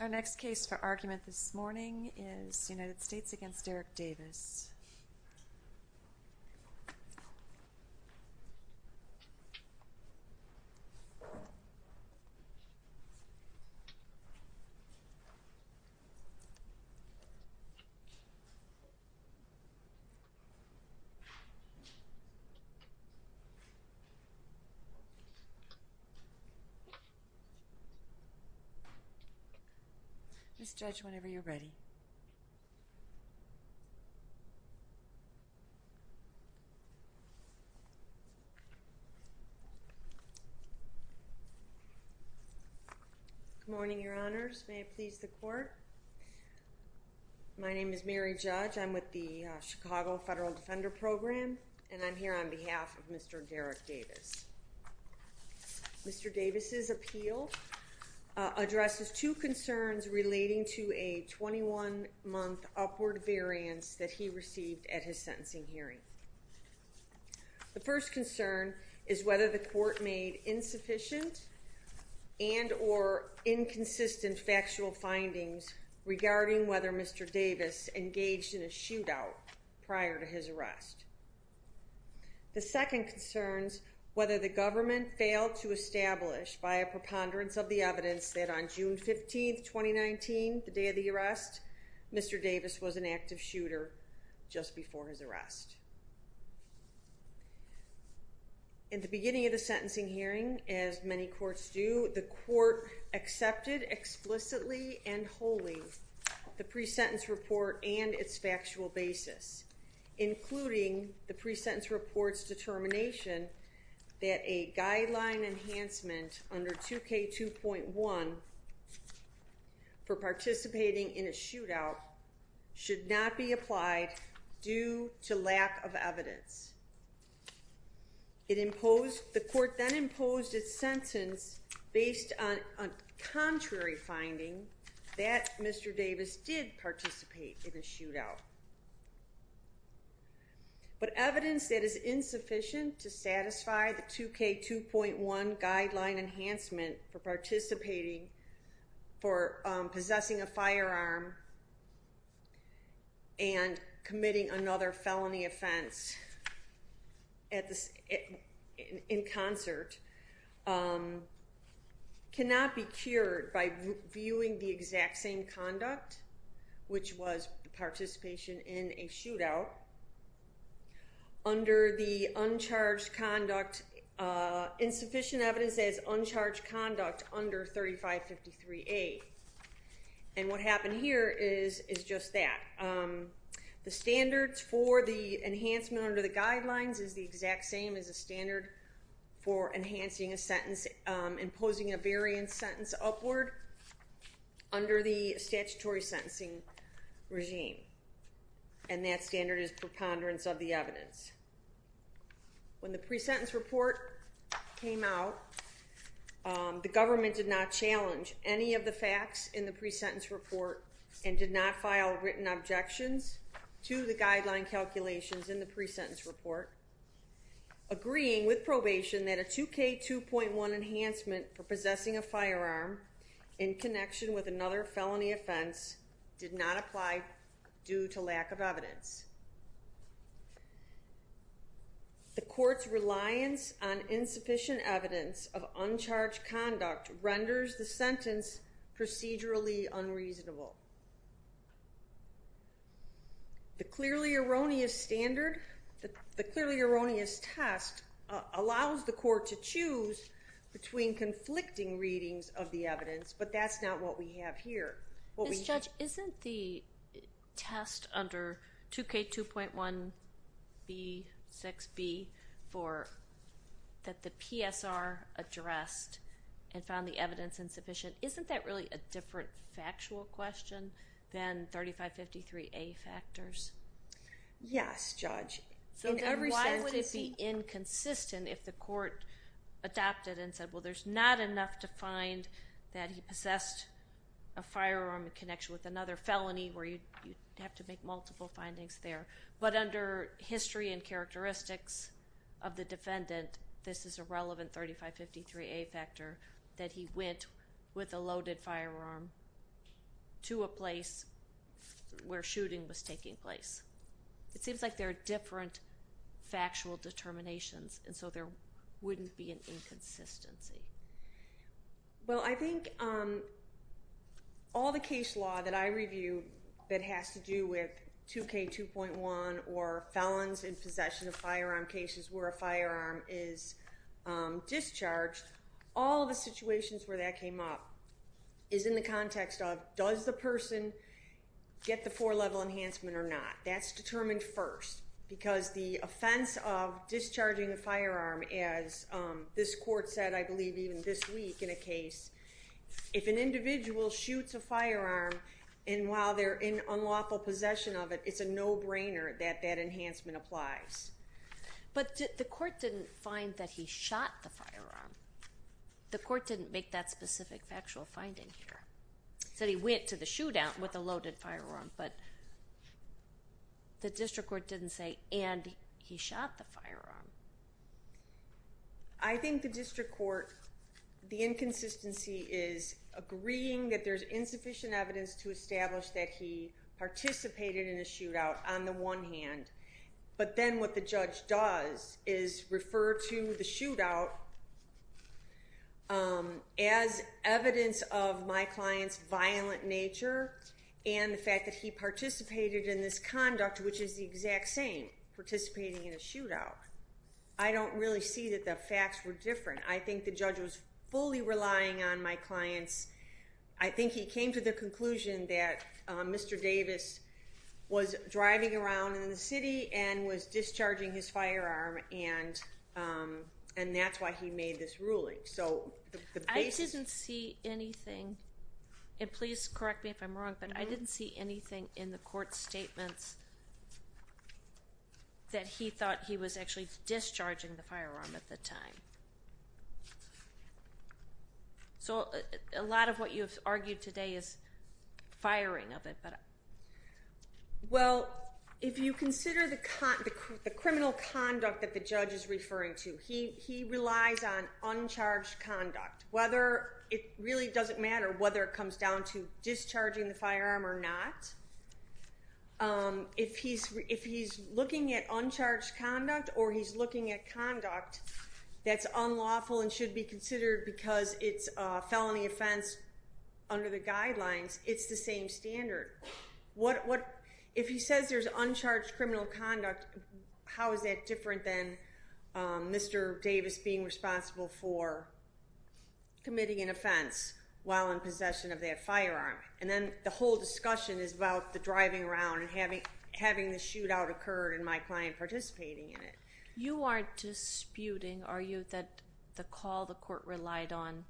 Our next case for argument this morning is United States v. Derrick Davis. Ms. Judge, whenever you're ready. Mary Judge Good morning, Your Honors. May it please the court. My name is Mary Judge. I'm with the Chicago Federal Defender Program, and I'm here on behalf of Mr. Derrick Davis. Mr. Davis's appeal addresses two concerns relating to a 21-month upward variance that he received at his sentencing hearing. The first concern is whether the court made insufficient and or inconsistent factual findings regarding whether Mr. Davis engaged in a shootout prior to his arrest. The second concerns whether the government failed to establish by a preponderance of the evidence that on June 15, 2019, the day of the arrest, Mr. Davis was an active shooter just before his arrest. In the beginning of the sentencing hearing, as many courts do, the court accepted explicitly and wholly the pre-sentence report and its factual basis, including the pre-sentence report's determination that a guideline enhancement under 2K2.1 for participating in a shootout should not be The court then imposed its sentence based on a contrary finding that Mr. Davis did participate in a shootout. But evidence that is insufficient to satisfy the 2K2.1 guideline enhancement for participating for possessing a firearm and committing another felony offense in concert cannot be cured by viewing the exact same conduct, which was participation in a shootout under the uncharged conduct, insufficient evidence as uncharged conduct under 3553A. And what happened here is just that. The standards for the enhancement under the guidelines is the exact same as a standard for enhancing a sentence, imposing a variance sentence upward under the statutory sentencing regime. And that standard is preponderance of the evidence. When the pre-sentence report came out, the government did not challenge any of the facts in the pre-sentence report and did not file written objections to the guideline calculations in the pre-sentence report, agreeing with probation that a 2K2.1 enhancement for possessing a firearm in connection with another felony offense did not apply due to lack of evidence. The court's reliance on insufficient evidence of uncharged conduct renders the sentence procedurally unreasonable. The clearly erroneous standard, the clearly erroneous test allows the court to choose between conflicting readings of the evidence, but that's not what we have here. Ms. Judge, isn't the test under 2K2.1B6B that the PSR addressed and found the evidence insufficient, isn't that really a different factual question than 3553A factors? Yes, Judge. So then why would it be inconsistent if the court adopted and said, well, there's not enough to find that he possessed a firearm in connection with another felony where you have to make multiple findings there, but under history and characteristics of the defendant, this is a relevant 3553A factor, that he went with a loaded firearm to a place where shooting was taking place? It seems like there are different factual determinations, and so there wouldn't be an inconsistency. Well, I think all the case law that I review that has to do with 2K2.1 or felons in possession of firearm cases where a firearm is discharged, all the situations where that came up is in the context of, does the person get the four-level enhancement or not? That's determined first, because the offense of discharging the firearm, as this court said I believe even this week in a case, if an individual shoots a firearm and while they're in unlawful possession of it, it's a no-brainer that that enhancement applies. But the court didn't find that he shot the firearm. The court didn't make that specific factual finding here. It said he went to the shootout with a loaded firearm, but the district court didn't say, and he shot the firearm. I think the district court, the inconsistency is agreeing that there's insufficient evidence to establish that he participated in a shootout on the one hand, but then what the judge does is refer to the shootout as evidence of my client's violent nature and the fact that he participated in this conduct, which is the exact same, participating in a shootout. I don't really see that the facts were different. I think the judge was fully relying on my client's... that Mr. Davis was driving around in the city and was discharging his firearm and that's why he made this ruling. So the basis... I didn't see anything, and please correct me if I'm wrong, but I didn't see anything in the court statements that he thought he was actually discharging the firearm at the time. So, a lot of what you've argued today is firing of it, but... Well, if you consider the criminal conduct that the judge is referring to, he relies on uncharged conduct, whether it really doesn't matter whether it comes down to discharging the firearm or not. If he's looking at uncharged conduct or he's looking at conduct that's unlawful and should be considered because it's a felony offense under the guidelines, it's the same standard. If he says there's uncharged criminal conduct, how is that different than Mr. Davis being responsible for committing an offense while in possession of that firearm? And then the whole discussion is about the driving around and having the shootout occurred and my client participating in it. You are disputing, are you, that the call the court relied on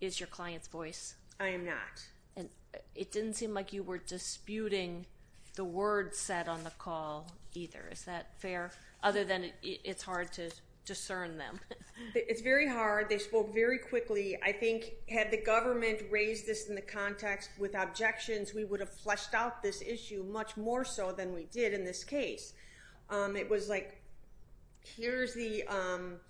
is your client's voice? I am not. It didn't seem like you were disputing the words said on the call either, is that fair? Other than it's hard to discern them. It's very hard. They spoke very quickly. I think had the government raised this in the context with objections, we would have fleshed out this issue much more so than we did in this case. It was like, here's the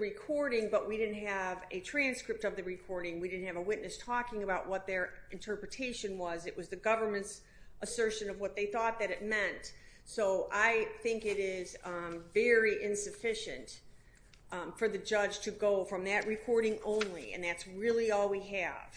recording, but we didn't have a transcript of the recording. We didn't have a witness talking about what their interpretation was. It was the government's assertion of what they thought that it meant. So I think it is very insufficient for the judge to go from that recording only, and that's really all we have,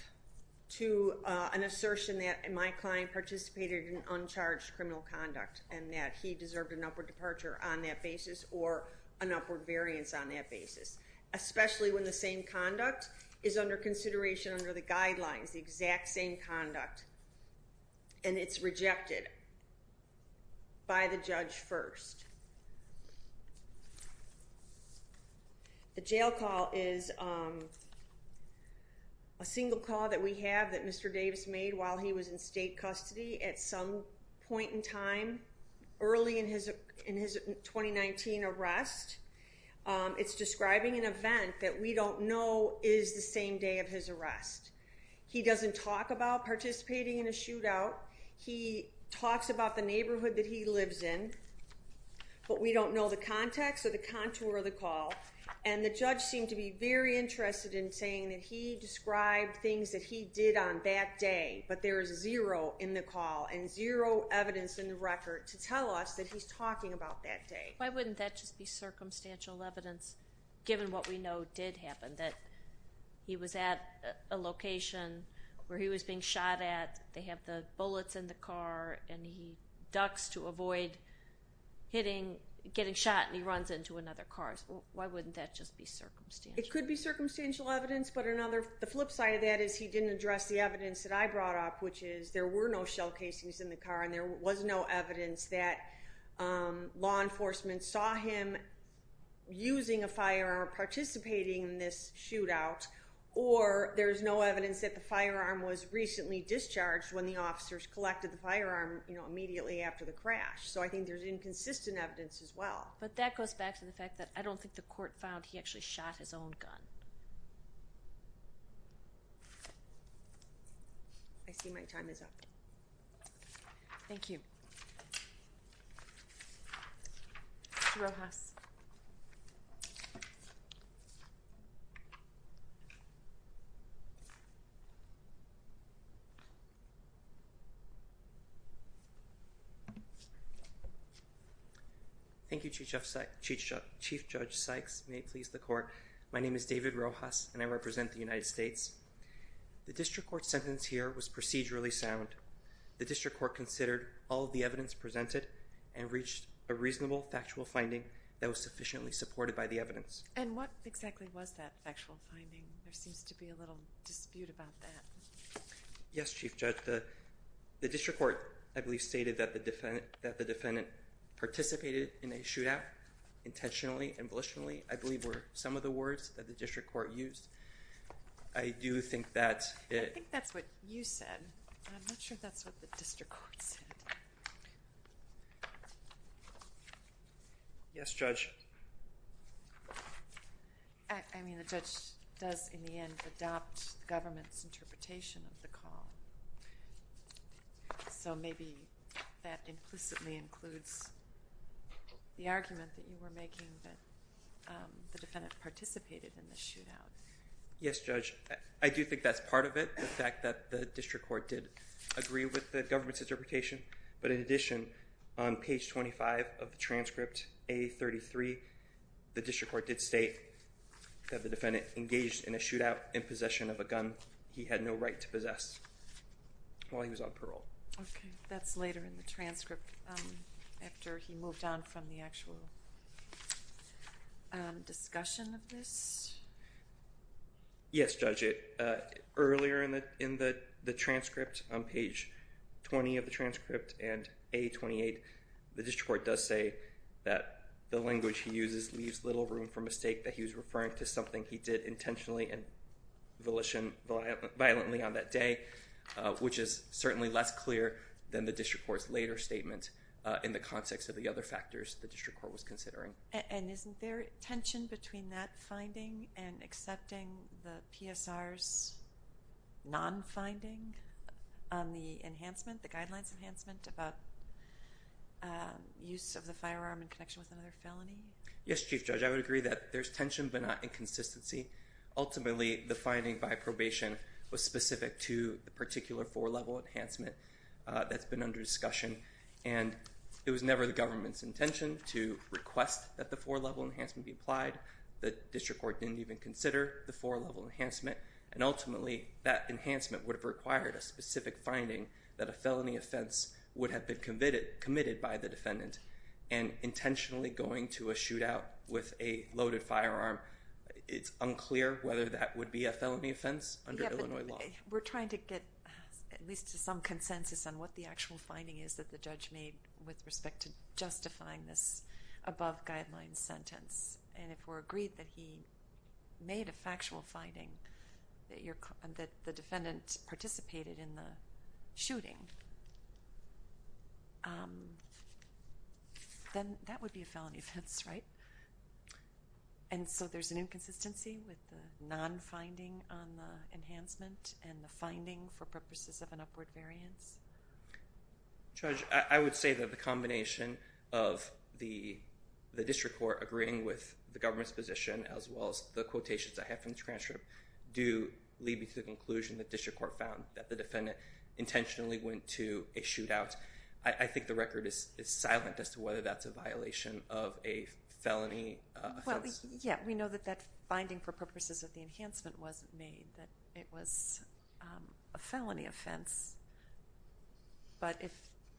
to an assertion that my client participated in uncharged criminal conduct and that he deserved an upward departure on that basis or an upward variance on that basis. Especially when the same conduct is under consideration under the guidelines, the exact same conduct, and it's rejected by the judge first. The jail call is a single call that we have that Mr. Davis made while he was in state custody at some point in time early in his 2019 arrest. It's describing an event that we don't know is the same day of his arrest. He doesn't talk about participating in a shootout. He talks about the neighborhood that he lives in, but we don't know the context or the contour of the call, and the judge seemed to be very interested in saying that he described things that he did on that day, but there is zero in the call and zero evidence in the record to tell us that he's talking about that day. Why wouldn't that just be circumstantial evidence, given what we know did happen, that he was at a location where he was being shot at, they have the bullets in the car, and he ducks to avoid getting shot and he runs into another car. Why wouldn't that just be circumstantial? It could be circumstantial evidence, but the flip side of that is he didn't address the evidence that I brought up, which is there were no shell casings in the car and there was no evidence that law enforcement saw him using a firearm or participating in this shootout or there's no evidence that the firearm was recently discharged when the officers collected the firearm immediately after the crash. So I think there's inconsistent evidence as well. But that goes back to the fact that I don't think the court found he actually shot his own gun. I see my time is up. Thank you. Mr. Rojas. Thank you. Thank you, Chief Judge Sykes. May it please the Court. My name is David Rojas, and I represent the United States. The District Court's sentence here was procedurally sound. The District Court considered all of the evidence presented and reached a reasonable, factual finding that was sufficiently supported by the evidence. And what exactly was that factual finding? There seems to be a little dispute about that. Yes, Chief Judge, the District Court, I believe, stated that the defendant participated in a shootout intentionally and volitionally, I believe were some of the words that the District Court used. I do think that's it. I think that's what you said, but I'm not sure that's what the District Court said. Yes, Judge. I mean, the judge does, in the end, adopt the government's interpretation of the call. So maybe that implicitly includes the argument that you were making that the defendant participated in the shootout. Yes, Judge. I do think that's part of it, the fact that the District Court did agree with the government's interpretation. But in addition, on page 25 of the transcript, A33, the District Court did state that the defendant engaged in a shootout in possession of a gun he had no right to possess while he was on parole. Okay. That's later in the transcript, after he moved on from the actual discussion of this? Yes, Judge. Earlier in the transcript, on page 20 of the transcript, and A28, the District Court does say that the language he uses leaves little room for mistake, that he was referring to something he did intentionally and violently on that day, which is certainly less clear than the District Court's later statement in the context of the other factors the District Court was considering. And isn't there tension between that finding and accepting the PSR's non-finding on the enhancement, the guidelines enhancement about use of the firearm in connection with another felony? Yes, Chief Judge. I would agree that there's tension, but not inconsistency. Ultimately, the finding by probation was specific to the particular four-level enhancement that's been under discussion. And it was never the government's intention to request that the four-level enhancement be applied. The District Court didn't even consider the four-level enhancement. And ultimately, that enhancement would have required a specific finding that a felony offense would have been committed by the defendant. And intentionally going to a shootout with a loaded firearm, it's unclear whether that would be a felony offense under Illinois law. We're trying to get at least some consensus on what the actual finding is that the judge made with respect to justifying this above-guidelines sentence. And if we're agreed that he made a factual finding that the defendant participated in the shooting, then that would be a felony offense, right? And so there's an inconsistency with the non-finding on the enhancement and the finding for purposes of an upward variance? Judge, I would say that the combination of the District Court agreeing with the government's position, as well as the quotations I have from the transcript, do lead me to the conclusion that the District Court found that the defendant intentionally went to a shootout. I think the record is silent as to whether that's a violation of a felony offense. Well, yeah, we know that that finding for purposes of the enhancement wasn't made, that it was a felony offense. But if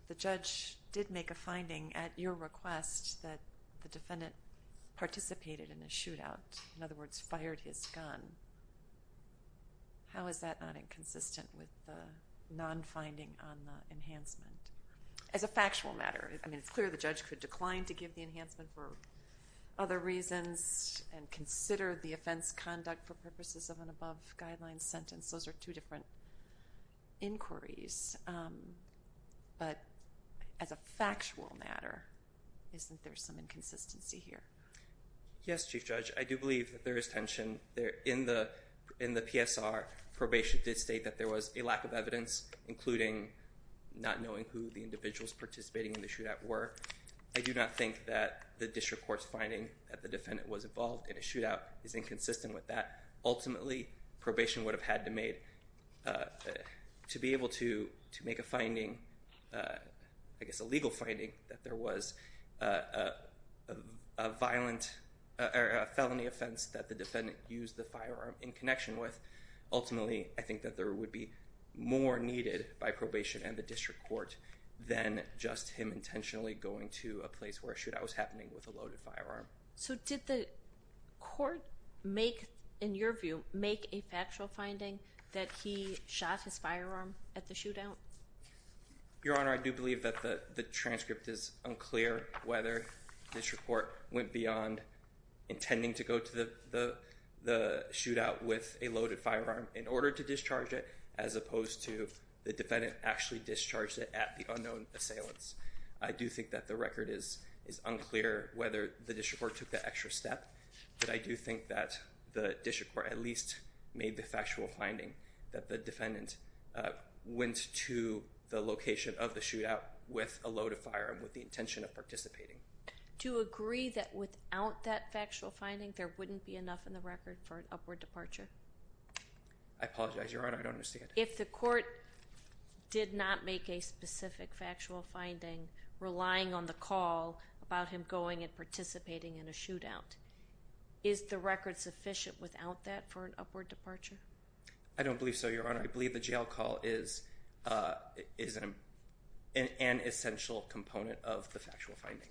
the judge did make a finding at your request that the defendant participated in a shootout, in other words, fired his gun, how is that not inconsistent with the non-finding on the enhancement? As a factual matter, I mean, it's clear the judge could decline to give the enhancement for other reasons and consider the offense conduct for purposes of an above-guidelines sentence. Those are two different inquiries. But as a factual matter, isn't there some inconsistency here? Yes, Chief Judge, I do believe that there is tension. In the PSR, probation did state that there was a lack of evidence, including not knowing who the individuals participating in the shootout were. I do not think that the District Court's finding that the defendant was involved in a shootout is inconsistent with that. Ultimately, probation would have had to make, to be able to make a finding, I guess a legal finding, that there was a felony offense that the defendant used the firearm in connection with. Ultimately, I think that there would be more needed by probation and the District Court than just him intentionally going to a place where a shootout was happening with a loaded firearm. So did the court make, in your view, make a factual finding that he shot his firearm at the shootout? Your Honor, I do believe that the transcript is unclear whether the District Court went beyond intending to go to the shootout with a loaded firearm in order to discharge it as opposed to the defendant actually discharged it at the unknown assailants. I do think that the record is unclear whether the District Court took that extra step. But I do think that the District Court at least made the factual finding that the defendant went to the location of the shootout with a loaded firearm with the intention of participating. Do you agree that without that factual finding there wouldn't be enough in the record for an upward departure? I apologize, Your Honor, I don't understand. If the court did not make a specific factual finding relying on the call about him going and participating in a shootout, is the record sufficient without that for an upward departure? I don't believe so, Your Honor. I believe the jail call is an essential component of the factual finding.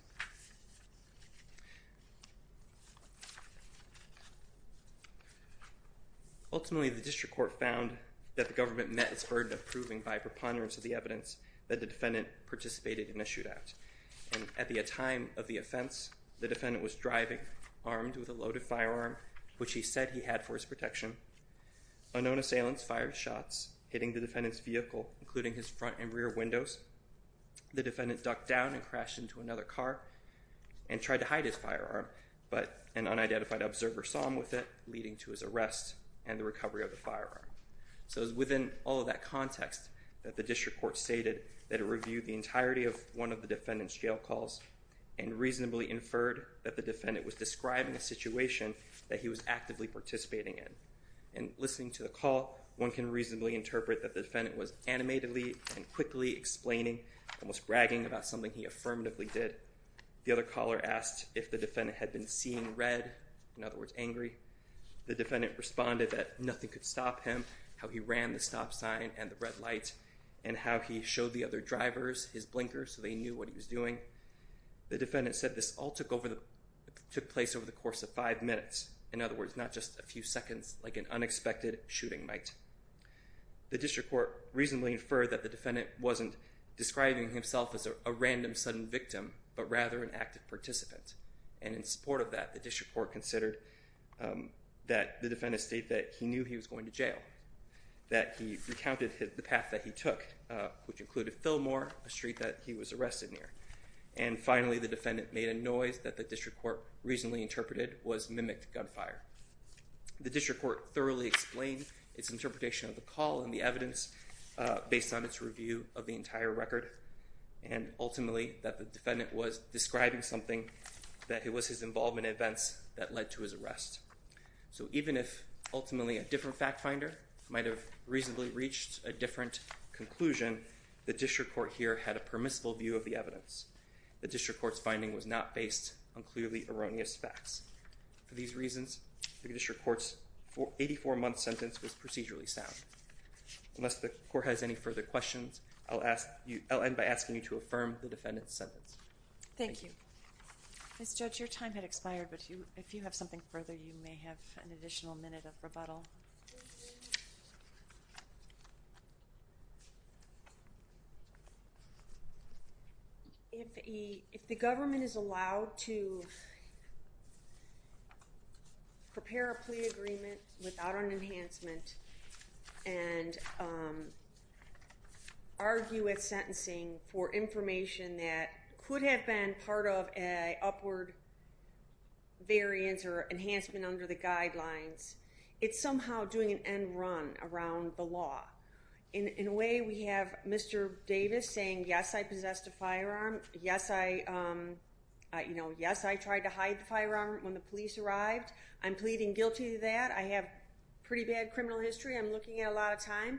Ultimately, the District Court found that the government met its burden of proving by preponderance of the evidence that the defendant participated in a shootout. And at the time of the offense, the defendant was driving, armed with a loaded firearm, which he said he had for his protection. Unknown assailants fired shots, hitting the defendant's vehicle, including his front and rear windows. The defendant ducked down and crashed into another car and tried to hide his firearm. But an unidentified observer saw him with it, leading to his arrest and the recovery of the firearm. So it was within all of that context that the District Court stated that it reviewed the entirety of one of the defendant's jail calls and reasonably inferred that the defendant was describing a situation that he was actively participating in. And listening to the call, one can reasonably interpret that the defendant was animatedly and quickly explaining, almost bragging about something he affirmatively did. The other caller asked if the defendant had been seeing red, in other words, angry. The defendant responded that nothing could stop him, how he ran the stop sign and the red light, and how he showed the other drivers his blinker so they knew what he was doing. The defendant said this all took place over the course of five minutes. In other words, not just a few seconds, like an unexpected shooting might. The District Court reasonably inferred that the defendant wasn't describing himself as a random, sudden victim, but rather an active participant. And in support of that, the District Court considered that the defendant stated that he knew he was going to jail, that he recounted the path that he took, which included Fillmore, a street that he was arrested near. And finally, the defendant made a noise that the District Court reasonably interpreted was mimicked gunfire. The District Court thoroughly explained its interpretation of the call and the evidence based on its review of the entire record, and ultimately that the defendant was describing something that it was his involvement in events that led to his arrest. So even if ultimately a different fact finder might have reasonably reached a different conclusion, the District Court here had a permissible view of the evidence. The District Court's finding was not based on clearly erroneous facts. For these reasons, the District Court's 84-month sentence was procedurally sound. Unless the Court has any further questions, I'll end by asking you to affirm the defendant's sentence. Thank you. Ms. Judge, your time had expired, but if you have something further, you may have an additional minute of rebuttal. If the government is allowed to prepare a plea agreement without an enhancement and argue with sentencing for information that could have been part of an upward variance or enhancement under the guidelines, it's somehow doing an end run around the law. In a way, we have Mr. Davis saying, yes, I possessed a firearm. Yes, I tried to hide the firearm when the police arrived. I'm pleading guilty to that. I have pretty bad criminal history. I'm looking at a lot of time.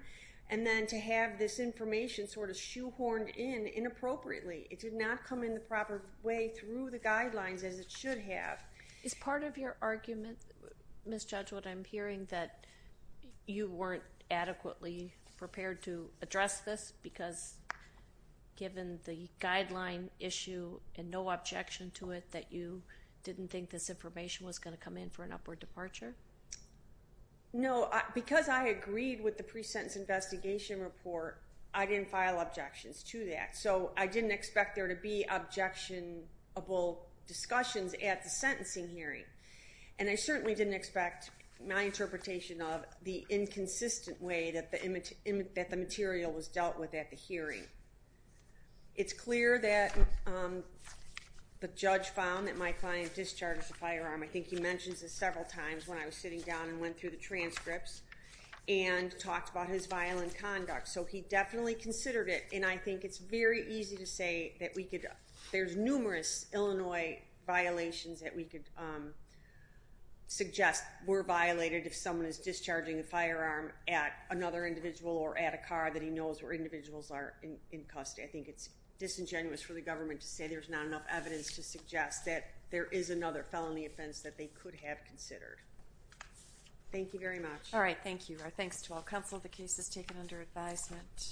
And then to have this information sort of shoehorned in inappropriately. It did not come in the proper way through the guidelines as it should have. Is part of your argument, Ms. Judge, what I'm hearing that you weren't adequately prepared to address this because given the guideline issue and no objection to it that you didn't think this information was going to come in for an upward departure? No, because I agreed with the pre-sentence investigation report, I didn't file objections to that. So I didn't expect there to be objectionable discussions at the sentencing hearing. And I certainly didn't expect my interpretation of the inconsistent way that the material was dealt with at the hearing. It's clear that the judge found that my client discharged the firearm. I think he mentions this several times when I was sitting down and went through the transcripts and talked about his violent conduct. So he definitely considered it, and I think it's very easy to say that there's numerous Illinois violations that we could suggest were violated if someone is discharging a firearm at another individual or at a car that he knows where individuals are in custody. I think it's disingenuous for the government to say there's not enough evidence to suggest that there is another felony offense that they could have considered. Thank you very much. All right. Thank you. And our thanks to all counsel. The case is taken under advisement.